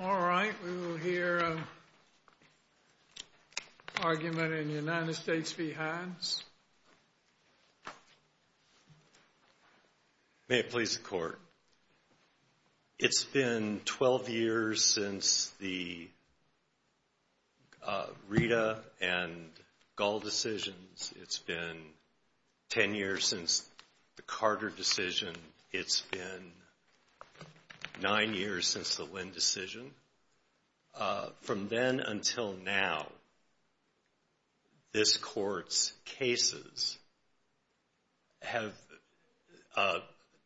All right, we will hear an argument in the United States v. Hines. May it please the Court. It's been 12 years since the Rita and Gull decisions. It's been 10 years since the Carter decision. It's been 9 years since the Lynn decision. From then until now, this Court's cases have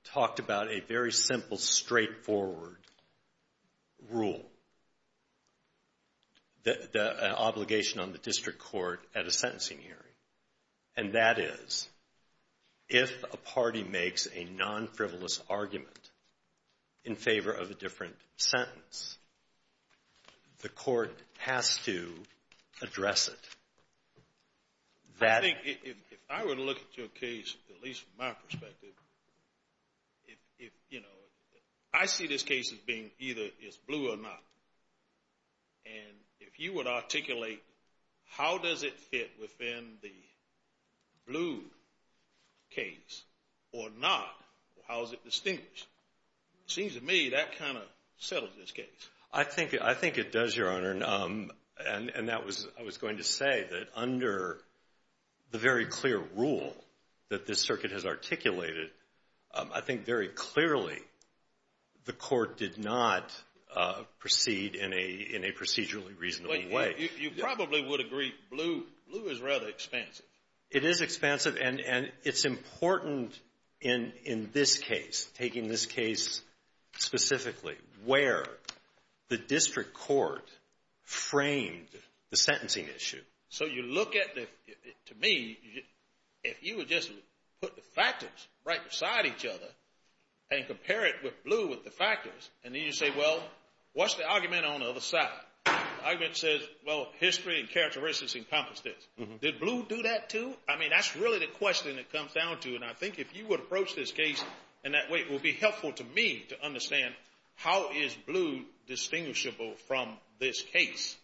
talked about a very simple, straightforward rule, the obligation on the District Court at a sentencing hearing. And that is, if a party has to address it, that... I think if I were to look at your case, at least from my perspective, I see this case as being either it's blue or not. And if you would articulate how does it fit within the blue case or not, how is it distinguished? It seems to me that kind of settles this case. I think it does, Your Honor. And that was, I was going to say that under the very clear rule that this Circuit has articulated, I think very clearly the Court did not proceed in a procedurally reasonable way. You probably would agree blue is rather expansive. It is expansive. And it's important in this case, taking this case specifically, where the District Court framed the sentencing issue. So you look at the... To me, if you would just put the factors right beside each other and compare it with blue with the factors, and then you say, well, what's the argument on the other side? The argument says, well, history and characteristics encompass this. Did blue do that too? I mean, that's really the question it comes down to. And I think if you would approach this case in that way, it will be helpful to me to understand how is blue distinguishable from this case?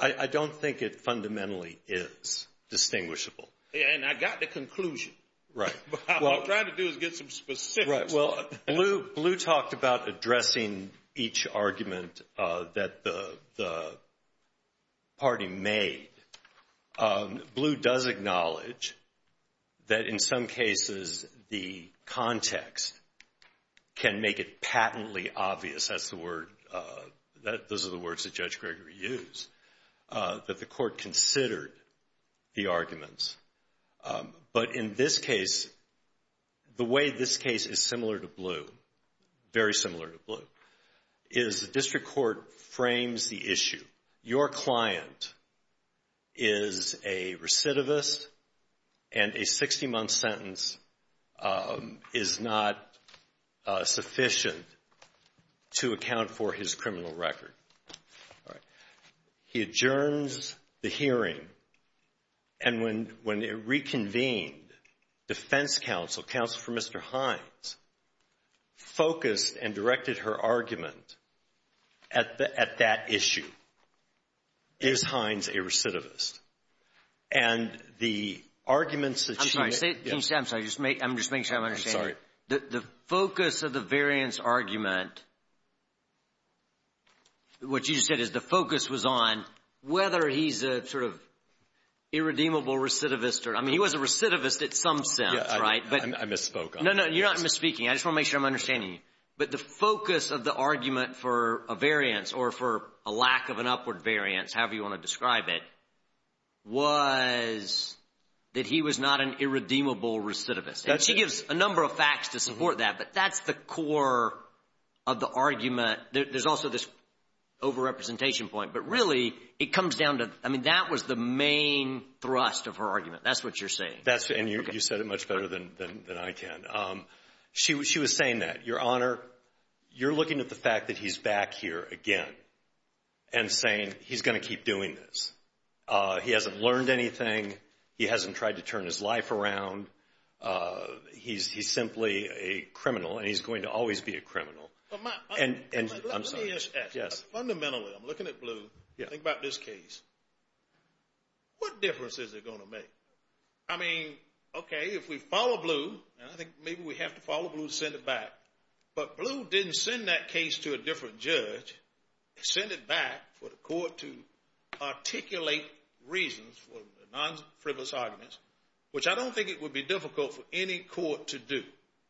I don't think it fundamentally is distinguishable. And I got the conclusion. Right. What I'm trying to do is get some specifics. Right. Well, blue talked about addressing each argument that the party made. Blue does acknowledge that in some cases, the context can make it patently obvious, that's the word, those are the words that Judge Gregory used, that the court considered the arguments. But in this case, the way this case is similar to blue, very similar to blue, is the District Court frames the issue. Your client is a recidivist and a 60-month sentence is not sufficient to account for his criminal record. He adjourns the hearing, and when it reconvened, defense counsel, counsel for Mr. Hines, focused and directed her argument at that issue. Is Hines a recidivist? And the arguments that she made... I'm sorry. Can you say... I'm sorry. I'm just making sure I'm understanding. I'm sorry. The focus of the variance argument, what you just said is the focus was on whether he's a sort of irredeemable recidivist. I mean, he was a recidivist at some sense, right? I misspoke. No, no, you're not misspeaking. I just want to make sure I'm understanding you. But the focus of the argument for a variance or for a lack of an upward variance, however you want to describe it, was that he was not an irredeemable recidivist. And she gives a number of facts to support that, but that's the core of the argument. There's also this overrepresentation point. But really, it comes down to... I mean, that was the main thrust of her argument. That's what you're saying. And you said it much better than I can. She was saying that, Your Honor, you're looking at the fact that he's back here again and saying he's going to keep doing this. He hasn't learned anything. He hasn't tried to turn his life around. He's simply a criminal, and he's going to always be a criminal. But my... I'm sorry. Let me ask you this. Yes. Fundamentally, I'm looking at Blue. Think about this case. What difference is it going to make? I mean, okay, if we follow Blue, and I think maybe we have to follow Blue, send it back. But Blue didn't send that case to a different judge. They sent it back for the court to articulate reasons for non-frivolous arguments, which I don't think it would be difficult for any court to do.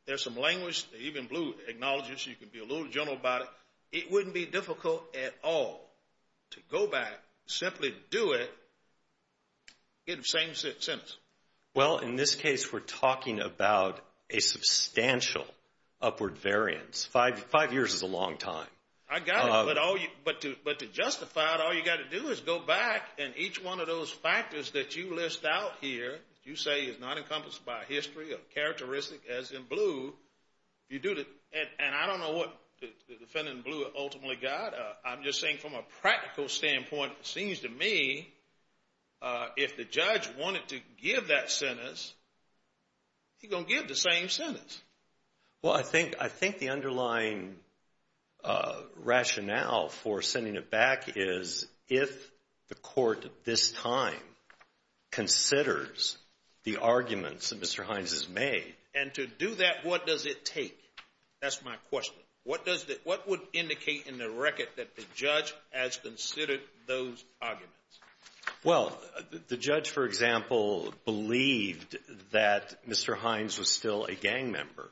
There's some language that even Blue acknowledges. You can be a little gentle about it. It wouldn't be difficult at all to go back, simply do it, get the same sentence. Well, in this case, we're talking about a substantial upward variance. Five years is a long time. I got it. But to justify it, all you got to do is go back, and each one of those factors that you list out here, you say is not encompassed by history or characteristic as in Blue, you do the... And I don't know what the defendant in Blue ultimately got. I'm just saying from a practical standpoint, it seems to me, if the judge wanted to give that sentence, he's going to give the same sentence. Well, I think the underlying rationale for sending it back is if the court at this time considers the arguments that Mr. Hines has made. And to do that, what does it take? That's my question. What would indicate in the record that the judge has considered those arguments? Well, the judge, for example, believed that Mr. Hines was still a gang member.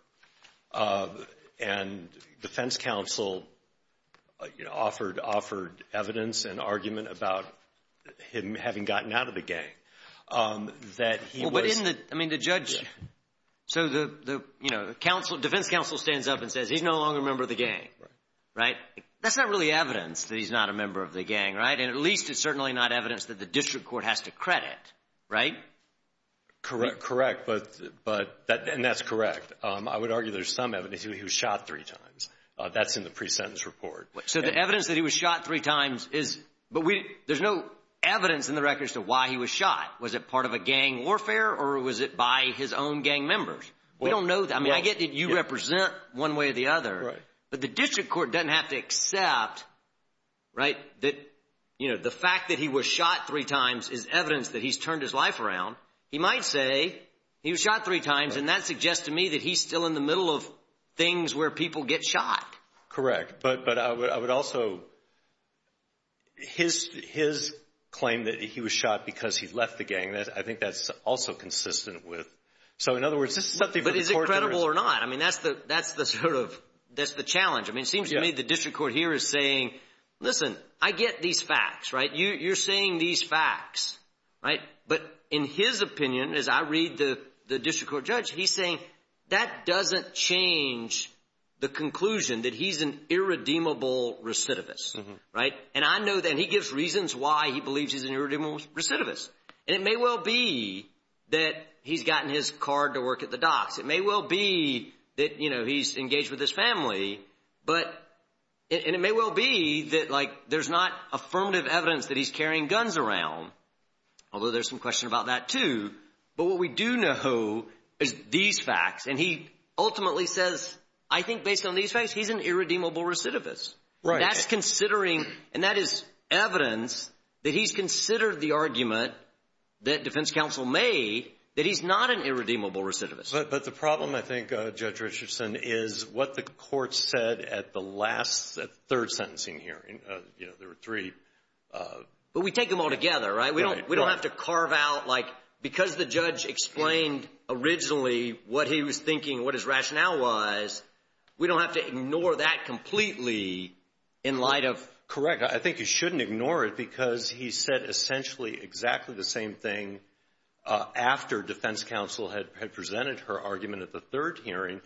And defense counsel offered evidence and argument about him having gotten out of the gang, that he was... Well, but in the – I mean, the judge – so the, you know, defense counsel stands up and That's not really evidence that he's not a member of the gang, right? And at least it's certainly not evidence that the district court has to credit, right? Correct. But – and that's correct. I would argue there's some evidence he was shot three times. That's in the pre-sentence report. So the evidence that he was shot three times is – but we – there's no evidence in the record as to why he was shot. Was it part of a gang warfare, or was it by his own gang members? We don't know that. I mean, I get that you represent one way or the other. Right. But the district court doesn't have to accept, right, that, you know, the fact that he was shot three times is evidence that he's turned his life around. He might say he was shot three times, and that suggests to me that he's still in the middle of things where people get shot. Correct. But I would also – his claim that he was shot because he left the gang, I think that's also consistent with – so in other words, this is something that the court... Irredeemable or not, I mean, that's the sort of – that's the challenge. I mean, it seems to me the district court here is saying, listen, I get these facts, right? You're saying these facts, right? But in his opinion, as I read the district court judge, he's saying that doesn't change the conclusion that he's an irredeemable recidivist, right? And I know that – and he gives reasons why he believes he's an irredeemable recidivist. And it may well be that he's gotten his card to work at the docks. It may well be that, you know, he's engaged with his family. But – and it may well be that, like, there's not affirmative evidence that he's carrying guns around, although there's some question about that too. But what we do know is these facts, and he ultimately says, I think based on these facts, he's an irredeemable recidivist. Right. And that's considering – and that is evidence that he's considered the argument that defense counsel made that he's not an irredeemable recidivist. But the problem, I think, Judge Richardson, is what the court said at the last – third sentencing hearing. You know, there were three. But we take them all together, right? We don't have to carve out, like – because the judge explained originally what he was thinking, what his rationale was, we don't have to in light of – Correct. I think you shouldn't ignore it because he said essentially exactly the same thing after defense counsel had presented her argument at the third hearing.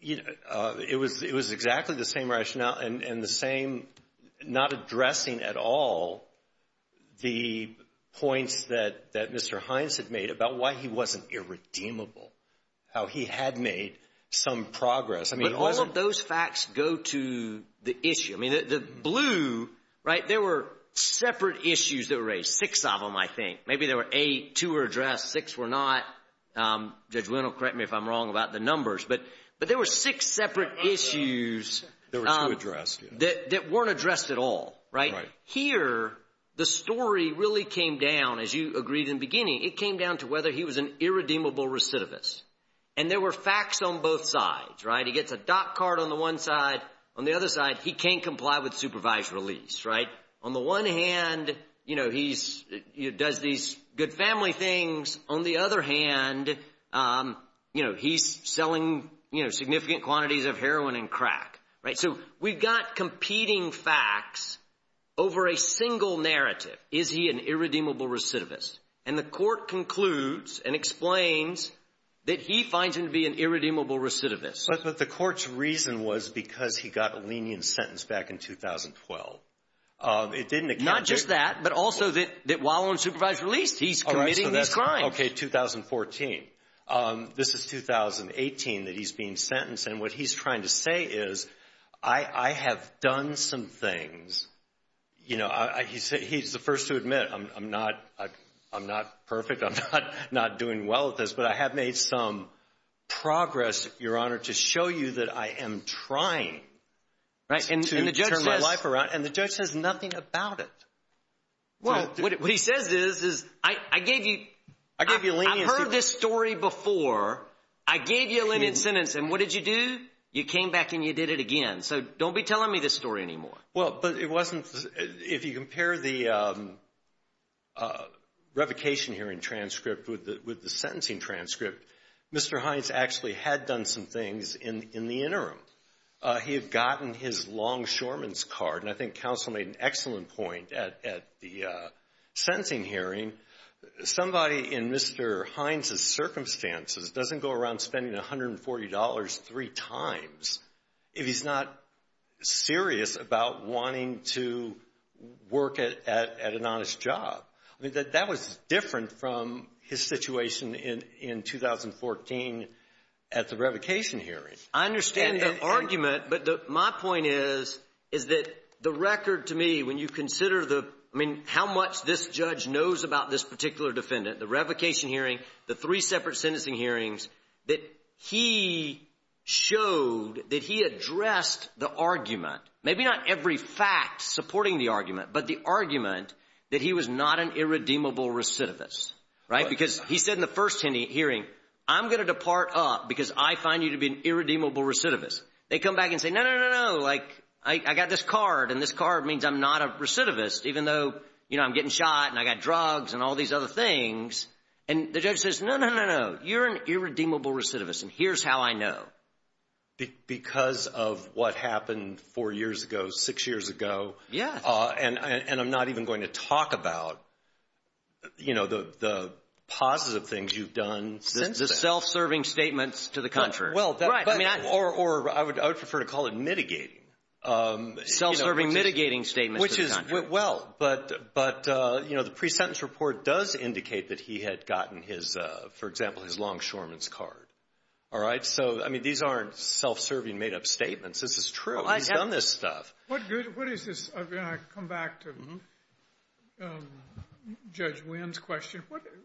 It was exactly the same rationale and the same – not addressing at all the points that Mr. Hines had made about why he wasn't irredeemable, how he had made some progress. I mean, it wasn't – How did those facts go to the issue? I mean, the blue, right, there were separate issues that were raised, six of them, I think. Maybe there were eight, two were addressed, six were not. Judge Wynn will correct me if I'm wrong about the numbers. But there were six separate issues – There were two addressed. That weren't addressed at all, right? Right. Here, the story really came down, as you agreed in the beginning, it came down to whether he was an irredeemable recidivist. And there were facts on both sides, right? He gets a doc card on the one side, on the other side, he can't comply with supervised release, right? On the one hand, you know, he does these good family things. On the other hand, you know, he's selling, you know, significant quantities of heroin and crack, right? So we've got competing facts over a single narrative. Is he an irredeemable recidivist? And the court concludes and explains that he finds him to be an irredeemable recidivist. But the court's reason was because he got a lenient sentence back in 2012. It didn't account for – Not just that, but also that while on supervised release, he's committing these crimes. Okay, 2014. This is 2018 that he's being sentenced, and what he's trying to say is, I have done some things. You know, he's the first to admit, I'm not perfect, I'm not doing well at this, but I have made some progress, Your Honor, to show you that I am trying to turn my life around. And the judge says nothing about it. Well, what he says is, I gave you – I gave you leniency. I've heard this story before. I gave you a lenient sentence, and what did you do? You came back and you did it again. So don't be telling me this story anymore. Well, but it wasn't – if you compare the revocation hearing transcript with the sentencing transcript, Mr. Hines actually had done some things in the interim. He had gotten his long shorman's card, and I think counsel made an excellent point at the sentencing hearing. Somebody in Mr. Hines' circumstances doesn't go around spending $140 three times if he's not serious about wanting to work at an honest job. I mean, that was different from his situation in 2014 at the revocation hearing. I understand the argument, but my point is, is that the record to me, when you consider the – I mean, how much this judge knows about this particular defendant, the revocation hearing, the three separate sentencing hearings, that he showed that he addressed the argument, maybe not every fact supporting the argument, but the argument that he was not an irredeemable recidivist, right? Because he said in the first hearing, I'm going to depart up because I find you to be an irredeemable recidivist. They come back and say, no, no, no, no. Like, I got this recidivist, even though, you know, I'm getting shot and I got drugs and all these other things. And the judge says, no, no, no, no. You're an irredeemable recidivist, and here's how I know. Because of what happened four years ago, six years ago. Yeah. And I'm not even going to talk about, you know, the positive things you've done since that. The self-serving statements to the country. Right. Or I would prefer to call it mitigating. Self-serving mitigating statements to the country. Which is, well, but, you know, the pre-sentence report does indicate that he had gotten his, for example, his longshoreman's card. All right? So, I mean, these aren't self-serving made-up statements. This is true. He's done this stuff. What is this? I mean, I come back to Judge Wynn's question.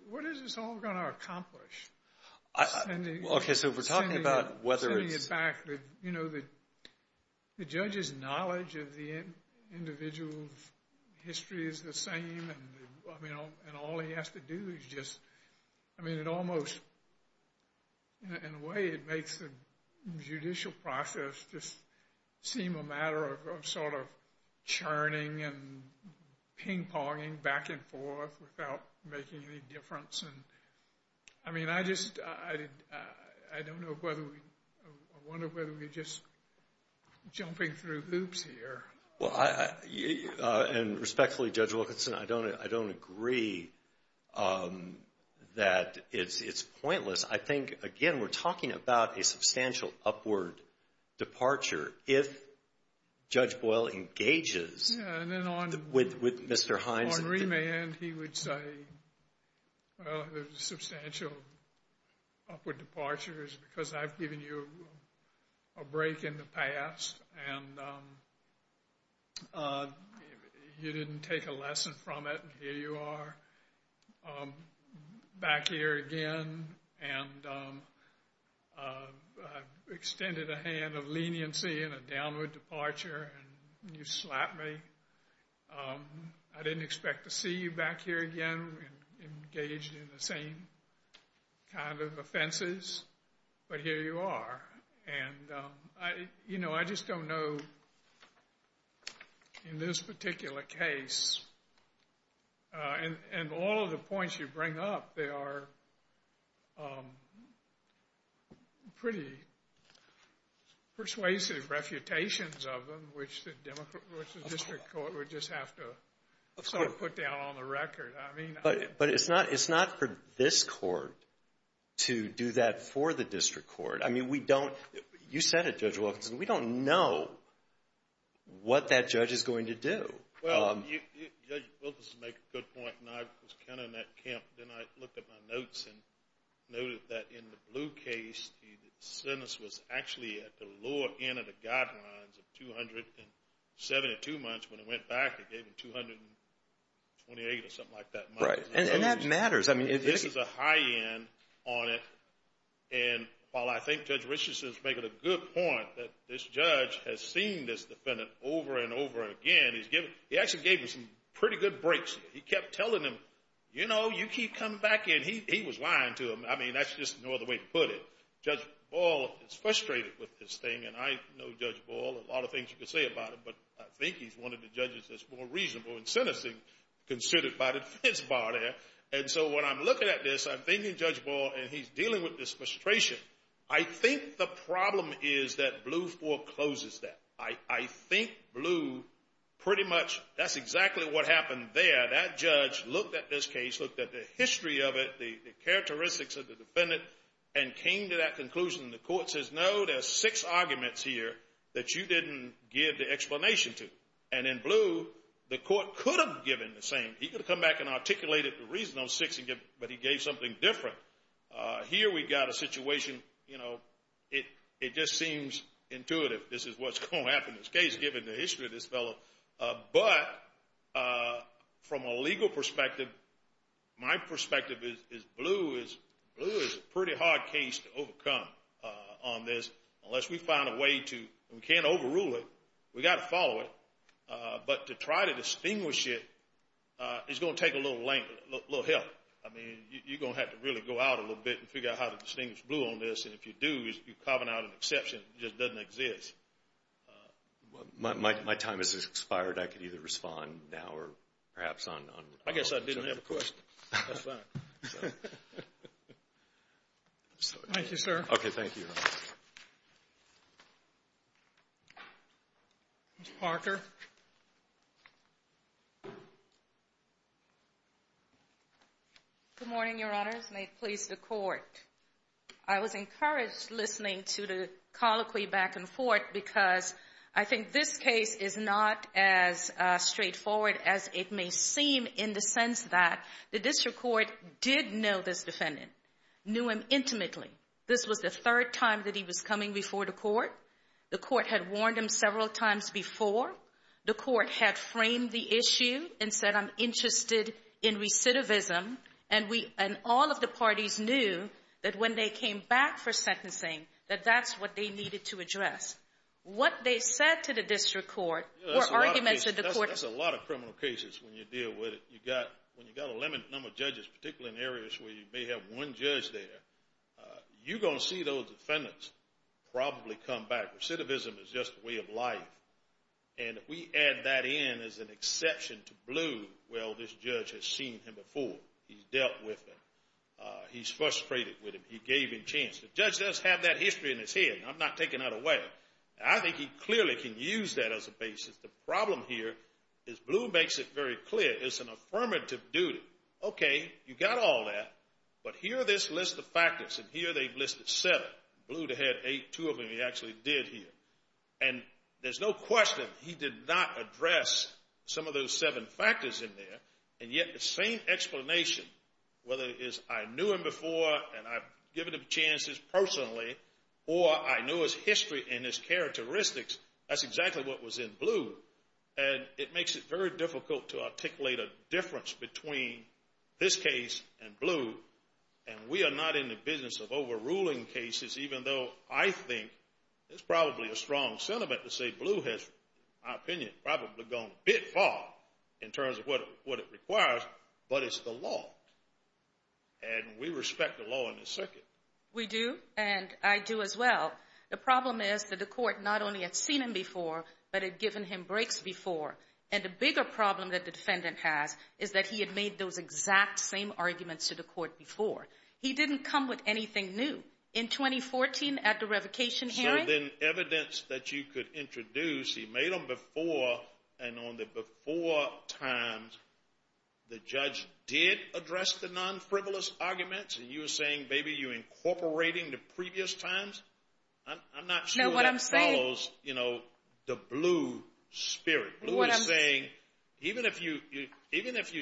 What is this all going to accomplish? Okay, so we're talking about whether it's... Sending it back. You know, the judge's knowledge of the individual's history is the same, and all he has to do is just... I mean, it almost, in a way, it makes the judicial process just seem a matter of sort of churning and ping-ponging back and forth without making any difference. And, I mean, I just, I don't know whether we, I wonder whether we're just jumping through hoops here. Well, and respectfully, Judge Wilkinson, I don't agree that it's pointless. I think, again, we're talking about a substantial upward departure if Judge Boyle engages with Mr. Hines. On remand, he would say, well, there's a substantial upward departure because I've given you a break in the past, and you didn't take a lesson from it, and here you are back here again, and I've extended a hand of leniency in a downward departure, and you slapped me. I didn't expect to see you back here again engaged in the same kind of offenses, but here you are. And, you know, I just don't know, in this particular case, and all of the points you just have to sort of put down on the record, I mean. But it's not for this court to do that for the district court. I mean, we don't, you said it, Judge Wilkinson, we don't know what that judge is going to do. Well, Judge Wilkinson makes a good point, and I was kind of in that camp, and I looked at my notes and noted that in the Blue case, the sentence was actually at the lower end of guidelines of 272 months. When it went back, it gave him 228 or something like that. Right. And that matters. This is a high end on it, and while I think Judge Richardson is making a good point that this judge has seen this defendant over and over again, he actually gave him some pretty good breaks. He kept telling him, you know, you keep coming back in. He was lying to him. I mean, that's just no other way to put it. Judge Ball is frustrated with this thing, and I know Judge Ball, a lot of things you can say about him, but I think he's one of the judges that's more reasonable in sentencing considered by the defense bar there. And so when I'm looking at this, I'm thinking Judge Ball, and he's dealing with this frustration. I think the problem is that Blue forecloses that. I think Blue pretty much, that's exactly what happened there. That judge looked at this case, looked at the history of it, the characteristics of the defendant, and came to that conclusion. The court says, no, there's six arguments here that you didn't give the explanation to. And then Blue, the court could have given the same. He could have come back and articulated the reason on six, but he gave something different. Here we got a situation, you know, it just seems intuitive. This is what's going to happen in this case, given the history of this fellow. But from a legal perspective, my perspective is Blue is a pretty hard case to overcome on this, unless we find a way to, we can't overrule it, we got to follow it. But to try to distinguish it is going to take a little length, a little help. I mean, you're going to have to really go out a little bit and figure out how to distinguish Blue on this, and if you do, you're carving out an exception that just doesn't exist. My time has expired. I could either respond now or perhaps on... I guess I didn't have a question. That's fine. Thank you, sir. Okay, thank you. Ms. Parker. Good morning, Your Honors. May it please the court. I was encouraged listening to the colloquy back and forth, because I think this case is not as straightforward as it may seem in the sense that the district court did know this defendant, knew him intimately. This was the third time that he was coming before the court. The court had warned him several times before. The court had framed the issue and said, I'm interested in recidivism. All of the parties knew that when they came back for sentencing, that that's what they needed to address. What they said to the district court were arguments that the court... That's a lot of criminal cases when you deal with it. When you've got a limited number of judges, particularly in areas where you may have one judge there, you're going to see those defendants probably come back. Recidivism is just a way of life. And if we add that in as an exception to Blue, well, this judge has seen him before. He's dealt with him. He's frustrated with him. He gave him chance. The judge does have that history in his head. I'm not taking that away. I think he clearly can use that as a basis. The problem here is Blue makes it very clear. It's an affirmative duty. Okay, you got all that, but here are this list of factors. And here they've listed seven. Blue had eight, two of them he actually did here. And there's no question he did not address some of those seven factors in there. And yet the same explanation, whether it is I knew him before and I've given him chances personally or I knew his history and his characteristics, that's exactly what was in Blue. And it makes it very difficult to articulate a difference between this case and Blue. And we are not in the business of overruling cases, even though I think it's probably a strong sentiment to say Blue has, in my opinion, probably gone a bit far in terms of what it requires, but it's the law. And we respect the law in this circuit. We do, and I do as well. The problem is that the court not only had seen him before, but had given him breaks before. And the bigger problem that the defendant has is that he had made those exact same arguments to the court before. He didn't come with anything new. In 2014, at the revocation hearing. So then evidence that you could introduce, he made them before, and on the before times, the judge did address the non-frivolous arguments, and you're saying, baby, you're incorporating the previous times? I'm not sure that follows, you know, the Blue spirit. Blue is saying, even if you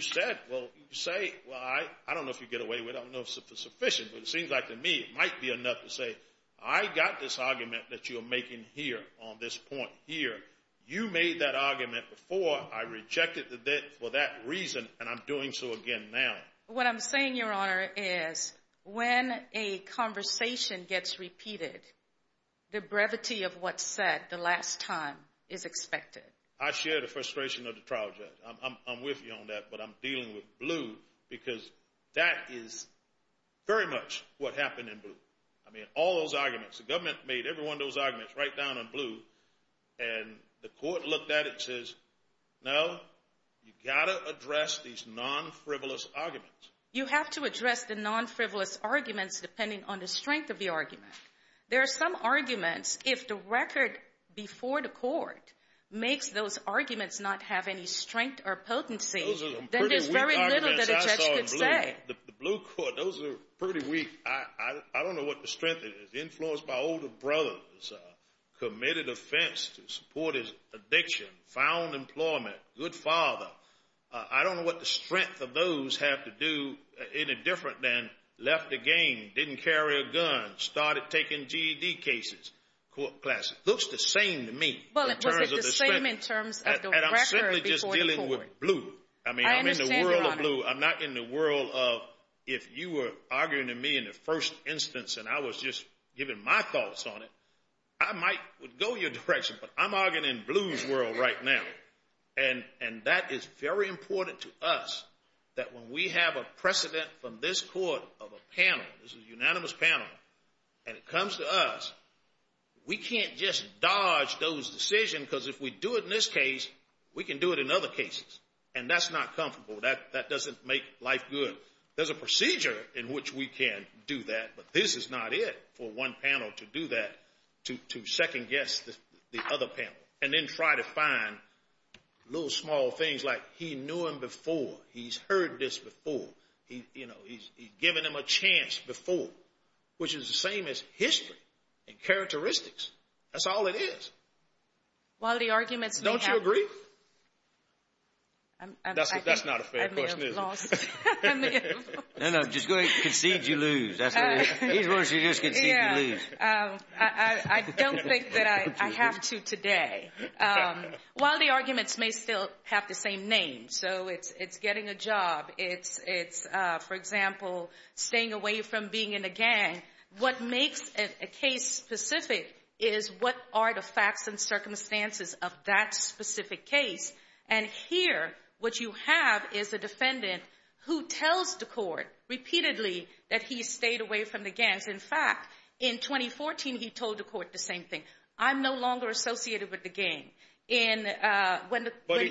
said, well, you say, well, I don't know if you get away with it. I don't know if it's sufficient, but it seems like to me it might be enough to say, I got this argument that you're making here on this point here. You made that argument before. I rejected it for that reason, and I'm doing so again now. What I'm saying, Your Honor, is when a conversation gets repeated, the brevity of what's said the last time is expected. I share the frustration of the trial judge. I'm with you on that, but I'm dealing with Blue because that is very much what happened in Blue. I mean, all those arguments, the government made every one of those arguments right down on Blue, and the court looked at it and says, no, you've got to address these non-frivolous arguments. You have to address the non-frivolous arguments depending on the strength of the argument. There are some arguments, if the record before the court makes those arguments not have any strength or potency, then there's very little that a judge could say. The Blue court, those are pretty weak. I don't know what the strength is. Influenced by older brothers, committed offense to support his addiction, found employment, good father. I don't know what the strength of those have to do any different than left the game, didn't carry a gun, started taking GED cases, court class. It looks the same to me in terms of the strength. Well, was it the same in terms of the record before the court? And I'm simply just dealing with Blue. I mean, I'm in the world of Blue. I'm not in the world of if you were arguing to me in the first instance and I was just giving my thoughts on it, I might go your direction, but I'm arguing in Blue's world right now, and that is very important to us that when we have a precedent from this court of a panel, this is a unanimous panel, and it comes to us, we can't just dodge those decisions because if we do it in this case, we can do it in other cases, and that's not comfortable. That doesn't make life good. There's a procedure in which we can do that, but this is not it for one panel to do that, to second guess the other panel and then try to find little small things like he knew him before. He's heard this before. He's given him a chance before, which is the same as history and characteristics. That's all it is. Quality arguments may help. Don't you agree? That's not a fair question, is it? I may have lost. I may have lost. No, no, just go ahead and concede you lose. That's what it is. These words are just concede you lose. I don't think that I have to today. While the arguments may still have the same name, so it's getting a job. It's, for example, staying away from being in a gang. What makes a case specific is what are the facts and circumstances of that specific case, and here what you have is a defendant who tells the court repeatedly that he stayed away from the gangs. In fact, in 2014, he told the court the same thing. I'm no longer associated with the gang. But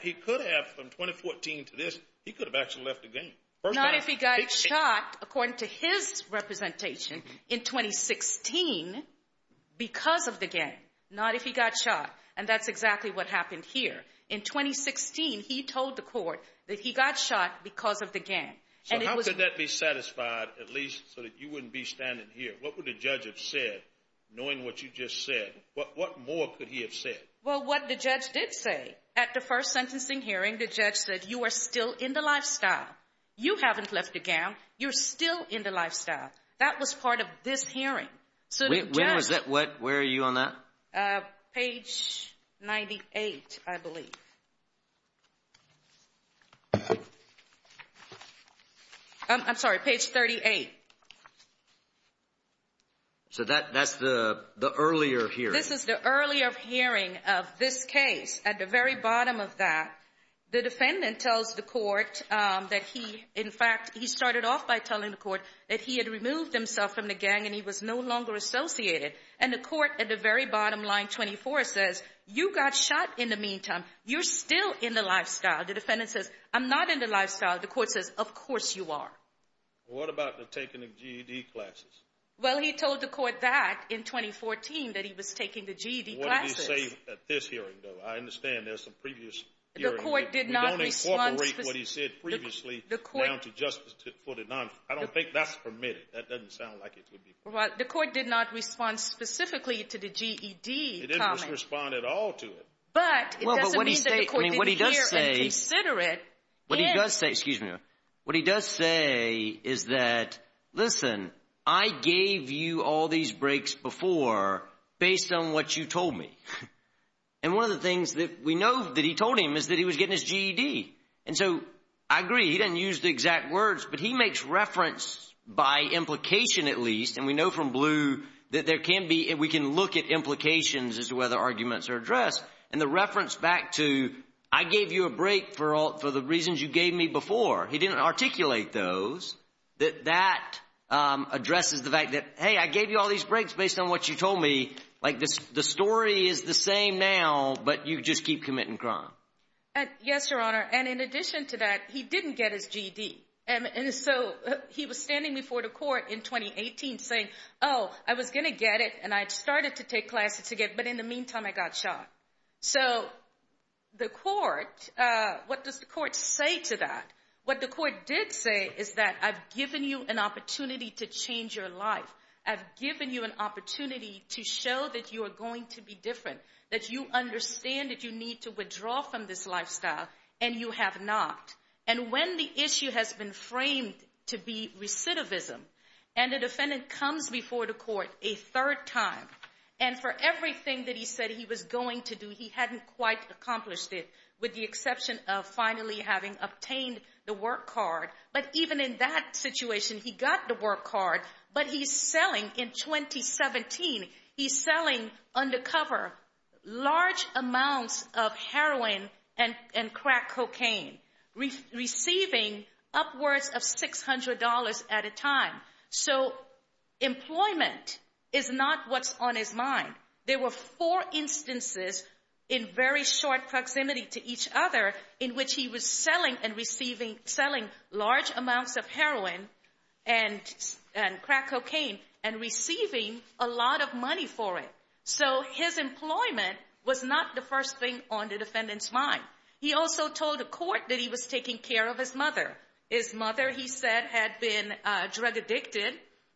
he could have from 2014 to this. He could have actually left the gang. Not if he got shot, according to his representation, in 2016 because of the gang. Not if he got shot, and that's exactly what happened here. In 2016, he told the court that he got shot because of the gang. So how could that be satisfied at least so that you wouldn't be standing here? What would the judge have said knowing what you just said? What more could he have said? Well, what the judge did say at the first sentencing hearing, the judge said, you are still in the lifestyle. You haven't left the gang. You're still in the lifestyle. That was part of this hearing. When was that? Where are you on that? Page 98, I believe. I'm sorry, page 38. So that's the earlier hearing. This is the earlier hearing of this case. At the very bottom of that, the defendant tells the court that he, in fact, he started off by telling the court that he had removed himself from the gang and he was no longer associated. And the court at the very bottom, line 24, says, you got shot in the meantime. You're still in the lifestyle. The defendant says, I'm not in the lifestyle. The court says, of course you are. What about the taking of GED classes? Well, he told the court that in 2014, that he was taking the GED classes. What did he say at this hearing, though? I understand there's some previous hearings. The court did not respond. We don't incorporate what he said previously down to justice footed. I don't think that's permitted. That doesn't sound like it would be permitted. The court did not respond specifically to the GED comment. It didn't respond at all to it. But it doesn't mean that the court didn't hear and consider it. What he does say is that, listen, I gave you all these breaks before based on what you told me. And one of the things that we know that he told him is that he was getting his GED. And so I agree. He didn't use the exact words, but he makes reference by implication at least, and we know from Blue that we can look at implications as to whether arguments are addressed. And the reference back to I gave you a break for the reasons you gave me before, he didn't articulate those. That addresses the fact that, hey, I gave you all these breaks based on what you told me. Like the story is the same now, but you just keep committing crime. Yes, Your Honor. And in addition to that, he didn't get his GED. And so he was standing before the court in 2018 saying, oh, I was going to get it, and I started to take classes again, but in the meantime I got shot. So the court, what does the court say to that? What the court did say is that I've given you an opportunity to change your life. I've given you an opportunity to show that you are going to be different, that you understand that you need to withdraw from this lifestyle, and you have not. And when the issue has been framed to be recidivism, and the defendant comes before the court a third time, and for everything that he said he was going to do, he hadn't quite accomplished it, with the exception of finally having obtained the work card. But even in that situation, he got the work card, but he's selling in 2017, he's selling undercover large amounts of heroin and crack cocaine, receiving upwards of $600 at a time. So employment is not what's on his mind. There were four instances in very short proximity to each other in which he was selling large amounts of heroin and crack cocaine and receiving a lot of money for it. So his employment was not the first thing on the defendant's mind. He also told the court that he was taking care of his mother. His mother, he said, had been drug addicted,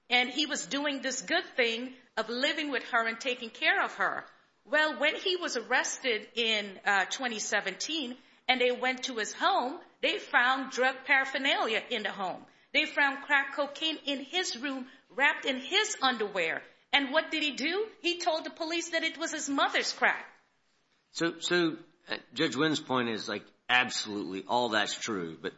and he was doing this good thing of living with her and taking care of her. Well, when he was arrested in 2017 and they went to his home, they found drug paraphernalia in the home. They found crack cocaine in his room wrapped in his underwear. And what did he do? He told the police that it was his mother's crack. So Judge Wynn's point is like absolutely all that's true, but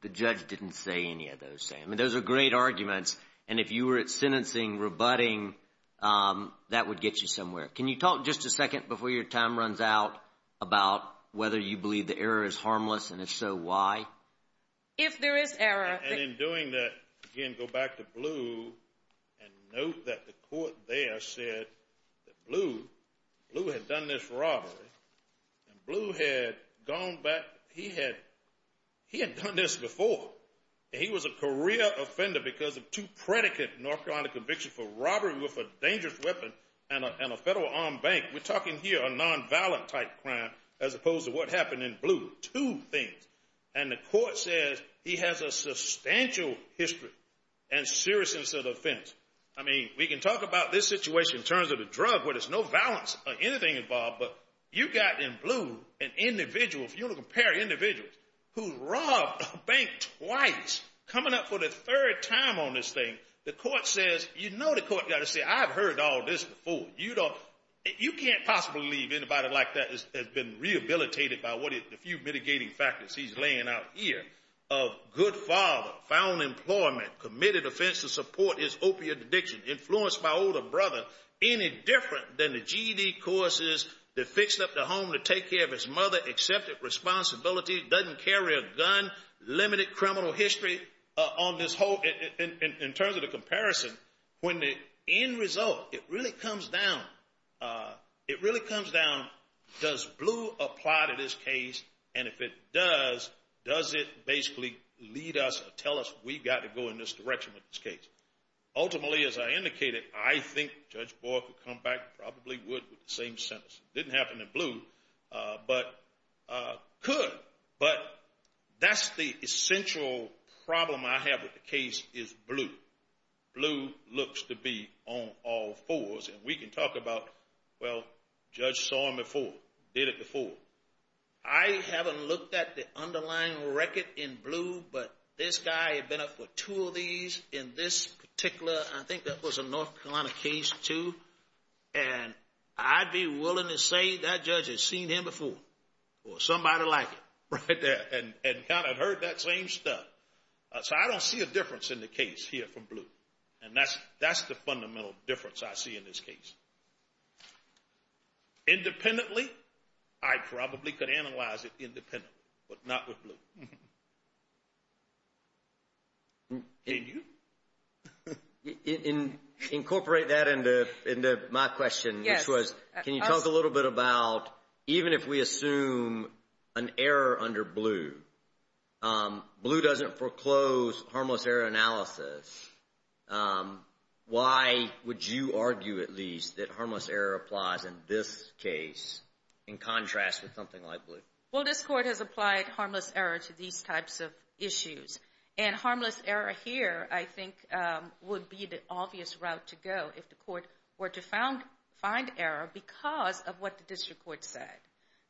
the judge didn't say any of those things. I mean, those are great arguments, and if you were at sentencing rebutting, that would get you somewhere. Can you talk just a second before your time runs out about whether you believe the error is harmless, and if so, why? If there is error. And in doing that, again, go back to Blue and note that the court there said that Blue had done this robbery, and Blue had gone back. He had done this before, and he was a career offender because of two predicate narcotic convictions for robbery with a dangerous weapon and a federal armed bank. We're talking here a non-violent type crime as opposed to what happened in Blue. Two things, and the court says he has a substantial history and serious sense of offense. I mean, we can talk about this situation in terms of a drug where there's no violence or anything involved, but you got in Blue an individual, if you want to compare individuals, who robbed a bank twice coming up for the third time on this thing. The court says you know the court got to say I've heard all this before. You can't possibly believe anybody like that has been rehabilitated by the few mitigating factors he's laying out here of good father, found employment, committed offense to support his opiate addiction, influenced by older brother, any different than the GED courses, they fixed up the home to take care of his mother, accepted responsibility, doesn't carry a gun, limited criminal history. In terms of the comparison, when the end result really comes down, does Blue apply to this case, and if it does, does it basically lead us or tell us we've got to go in this direction with this case? Ultimately, as I indicated, I think Judge Boyd would come back and probably would with the same sentence. It didn't happen in Blue, but could. But that's the essential problem I have with the case is Blue. Blue looks to be on all fours, and we can talk about, well, Judge saw him before, did it before. I haven't looked at the underlying record in Blue, but this guy had been up for two of these in this particular, I think that was a North Carolina case too, and I'd be willing to say that judge has seen him before or somebody like him. And kind of heard that same stuff. So I don't see a difference in the case here from Blue, and that's the fundamental difference I see in this case. Independently, I probably could analyze it independently, but not with Blue. Can you? Incorporate that into my question, which was can you talk a little bit about even if we assume an error under Blue, Blue doesn't foreclose harmless error analysis. Why would you argue at least that harmless error applies in this case in contrast with something like Blue? Well, this court has applied harmless error to these types of issues, and harmless error here I think would be the obvious route to go if the court were to find error because of what the district court said.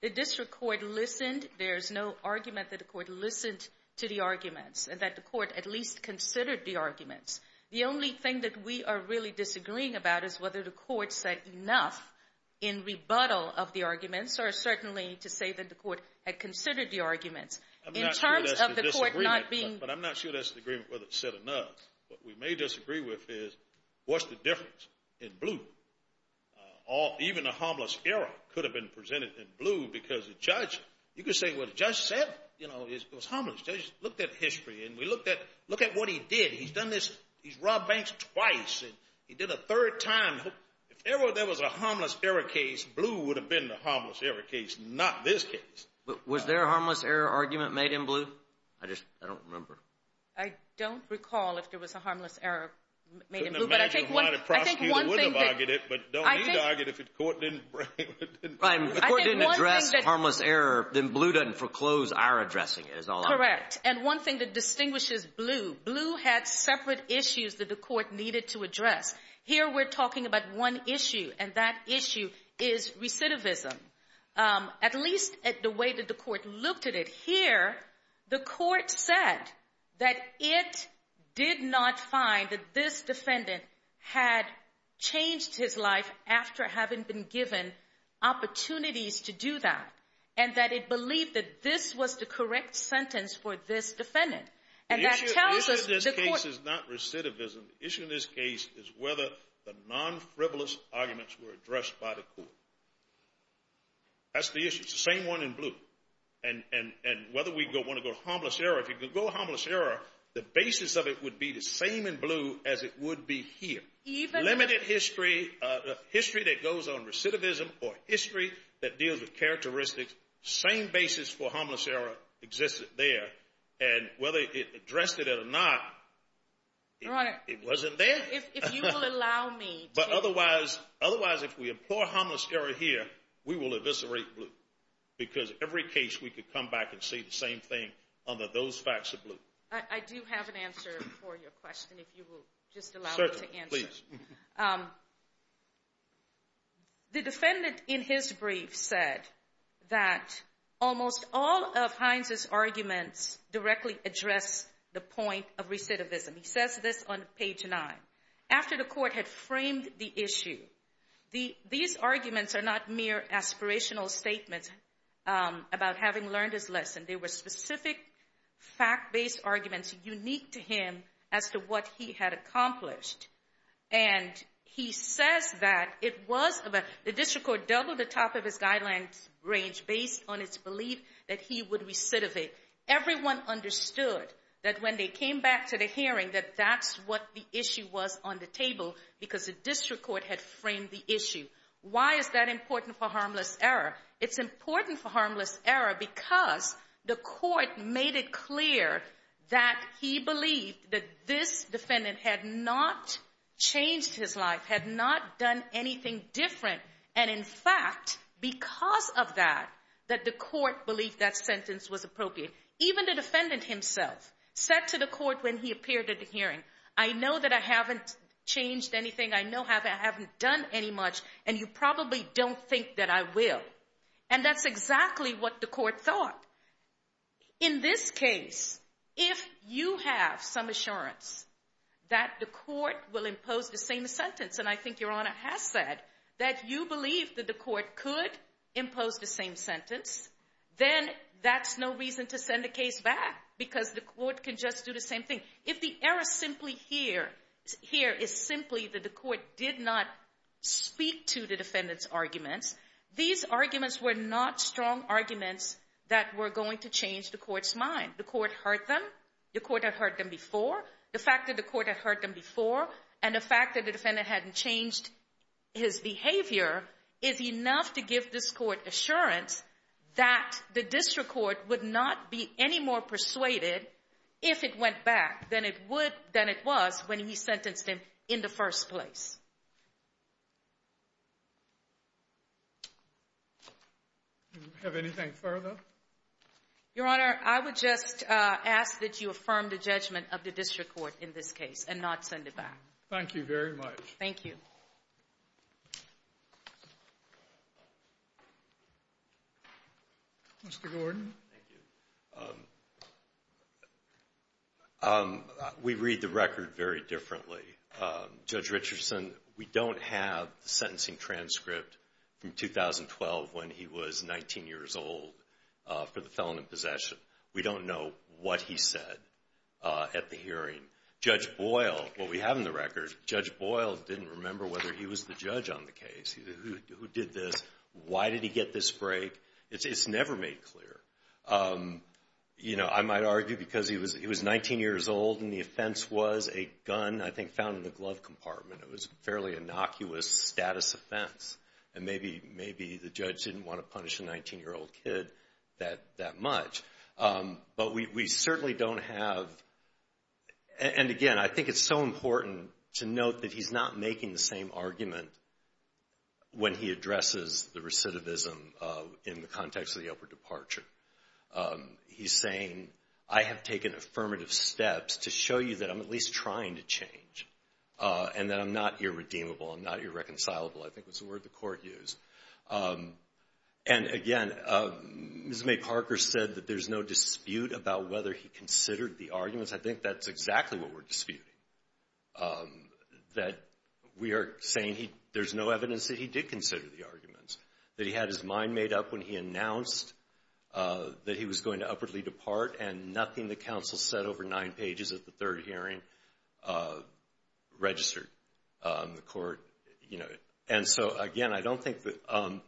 The district court listened. There's no argument that the court listened to the arguments and that the court at least considered the arguments. The only thing that we are really disagreeing about is whether the court said enough in rebuttal of the arguments or certainly to say that the court had considered the arguments. I'm not sure that's the disagreement, but I'm not sure that's the agreement whether it's said enough. What we may disagree with is what's the difference in Blue? Even a harmless error could have been presented in Blue because the judge, you could say what the judge said. It was harmless. The judge looked at history, and we looked at what he did. He's done this. He's robbed banks twice, and he did a third time. If ever there was a harmless error case, Blue would have been the harmless error case, not this case. Was there a harmless error argument made in Blue? I just don't remember. I don't recall if there was a harmless error made in Blue. I can imagine why the prosecutor would have argued it, but don't need to argue it if the court didn't bring it. If the court didn't address harmless error, then Blue doesn't foreclose our addressing it is all I'm saying. Correct, and one thing that distinguishes Blue, Blue had separate issues that the court needed to address. Here we're talking about one issue, and that issue is recidivism, at least the way that the court looked at it. Here, the court said that it did not find that this defendant had changed his life after having been given opportunities to do that, and that it believed that this was the correct sentence for this defendant. The issue in this case is not recidivism. The issue in this case is whether the non-frivolous arguments were addressed by the court. That's the issue. It's the same one in Blue, and whether we want to go harmless error, if you can go harmless error, the basis of it would be the same in Blue as it would be here. Limited history, history that goes on recidivism, or history that deals with characteristics, same basis for harmless error existed there, and whether it addressed it or not, it wasn't there. But otherwise, if we implore harmless error here, we will eviscerate Blue, because every case we could come back and say the same thing under those facts of Blue. I do have an answer for your question, if you will just allow me to answer. Certainly, please. The defendant in his brief said that almost all of Hines' arguments directly address the point of recidivism. He says this on page 9. After the court had framed the issue, these arguments are not mere aspirational statements about having learned his lesson. They were specific fact-based arguments unique to him as to what he had accomplished. And he says that it was about the district court doubled the top of his guidelines range based on its belief that he would recidivate. Everyone understood that when they came back to the hearing that that's what the issue was on the table because the district court had framed the issue. Why is that important for harmless error? It's important for harmless error because the court made it clear that he believed that this defendant had not changed his life, had not done anything different, and in fact, because of that, that the court believed that sentence was appropriate. Even the defendant himself said to the court when he appeared at the hearing, I know that I haven't changed anything, I know I haven't done any much, and you probably don't think that I will. And that's exactly what the court thought. In this case, if you have some assurance that the court will impose the same sentence, and I think Your Honor has said that you believe that the court could impose the same sentence, then that's no reason to send the case back because the court can just do the same thing. If the error simply here is simply that the court did not speak to the defendant's arguments, these arguments were not strong arguments that were going to change the court's mind. The court heard them. The court had heard them before. The fact that the court had heard them before and the fact that the defendant hadn't changed his behavior is enough to give this court assurance that the district court would not be any more persuaded, if it went back, than it was when he sentenced him in the first place. Do you have anything further? Your Honor, I would just ask that you affirm the judgment of the district court in this case and not send it back. Thank you very much. Thank you. Mr. Gordon. We read the record very differently. Judge Richardson, we don't have the sentencing transcript from 2012 when he was 19 years old for the felon in possession. We don't know what he said at the hearing. Judge Boyle, what we have in the record, Judge Boyle didn't remember whether he was the judge on the case. Who did this? Why did he get this break? It's never made clear. I might argue because he was 19 years old and the offense was a gun, I think, found in the glove compartment. It was a fairly innocuous status offense, and maybe the judge didn't want to punish a 19-year-old kid that much. But we certainly don't have, and again, I think it's so important to note that he's not making the same argument when he addresses the recidivism in the context of the upper departure. He's saying, I have taken affirmative steps to show you that I'm at least trying to change and that I'm not irredeemable, I'm not irreconcilable, I think was the word the court used. And again, Ms. May Parker said that there's no dispute about whether he considered the arguments. I think that's exactly what we're disputing, that we are saying there's no evidence that he did consider the arguments, that he had his mind made up when he announced that he was going to upwardly depart and nothing the counsel said over nine pages of the third hearing registered the court. And so again, I don't think that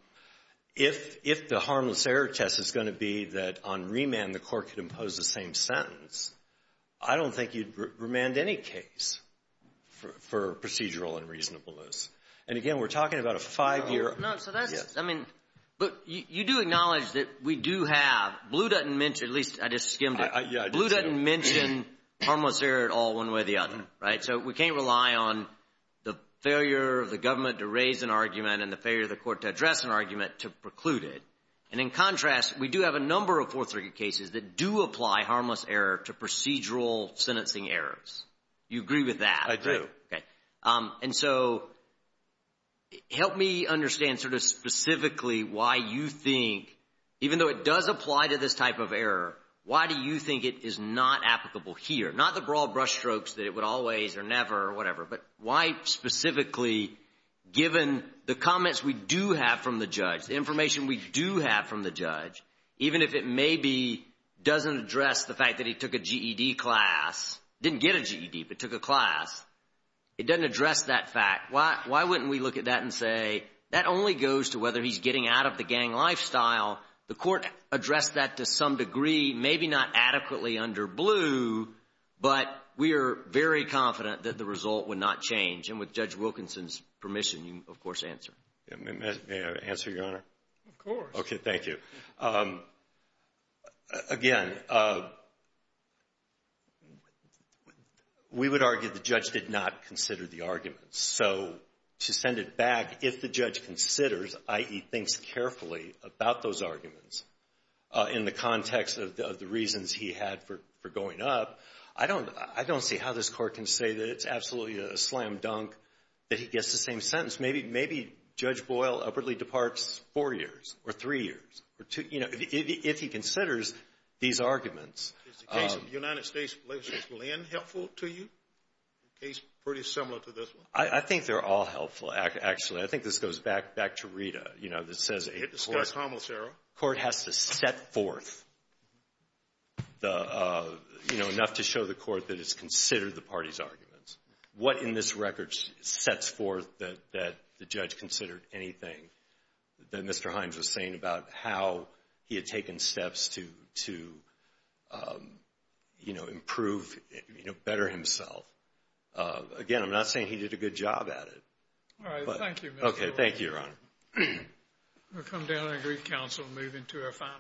if the harmless error test is going to be that on remand the court could impose the same sentence, I don't think you'd remand any case for procedural unreasonableness. And again, we're talking about a five-year… No, so that's, I mean, but you do acknowledge that we do have, Blue doesn't mention, at least I just skimmed it, Blue doesn't mention harmless error at all one way or the other, right? So we can't rely on the failure of the government to raise an argument and the failure of the court to address an argument to preclude it. And in contrast, we do have a number of Fourth Circuit cases that do apply harmless error to procedural sentencing errors. You agree with that? I do. Okay. And so help me understand sort of specifically why you think, even though it does apply to this type of error, why do you think it is not applicable here? Not the broad brush strokes that it would always or never or whatever, but why specifically given the comments we do have from the judge, the information we do have from the judge, even if it maybe doesn't address the fact that he took a GED class, didn't get a GED but took a class, it doesn't address that fact, why wouldn't we look at that and say that only goes to whether he's getting out of the gang lifestyle. The court addressed that to some degree, maybe not adequately under Bleu, but we are very confident that the result would not change. And with Judge Wilkinson's permission, you, of course, answer. May I answer, Your Honor? Of course. Okay, thank you. Again, we would argue the judge did not consider the arguments. So to send it back, if the judge considers, i.e., thinks carefully about those arguments in the context of the reasons he had for going up, I don't see how this court can say that it's absolutely a slam dunk that he gets the same sentence. Maybe Judge Boyle upwardly departs four years or three years or two, you know, if he considers these arguments. Is the case of the United States vs. Berlin helpful to you? A case pretty similar to this one? I think they're all helpful, actually. I think this goes back to Rita, you know, that says a court has to set forth, you know, enough to show the court that it's considered the party's arguments. What in this record sets forth that the judge considered anything that Mr. Hines was saying about how he had taken steps to, you know, improve, you know, better himself? Again, I'm not saying he did a good job at it. All right, thank you, Mr. Wilkinson. Okay, thank you, Your Honor. We'll come down and agree to counsel and move into our final case.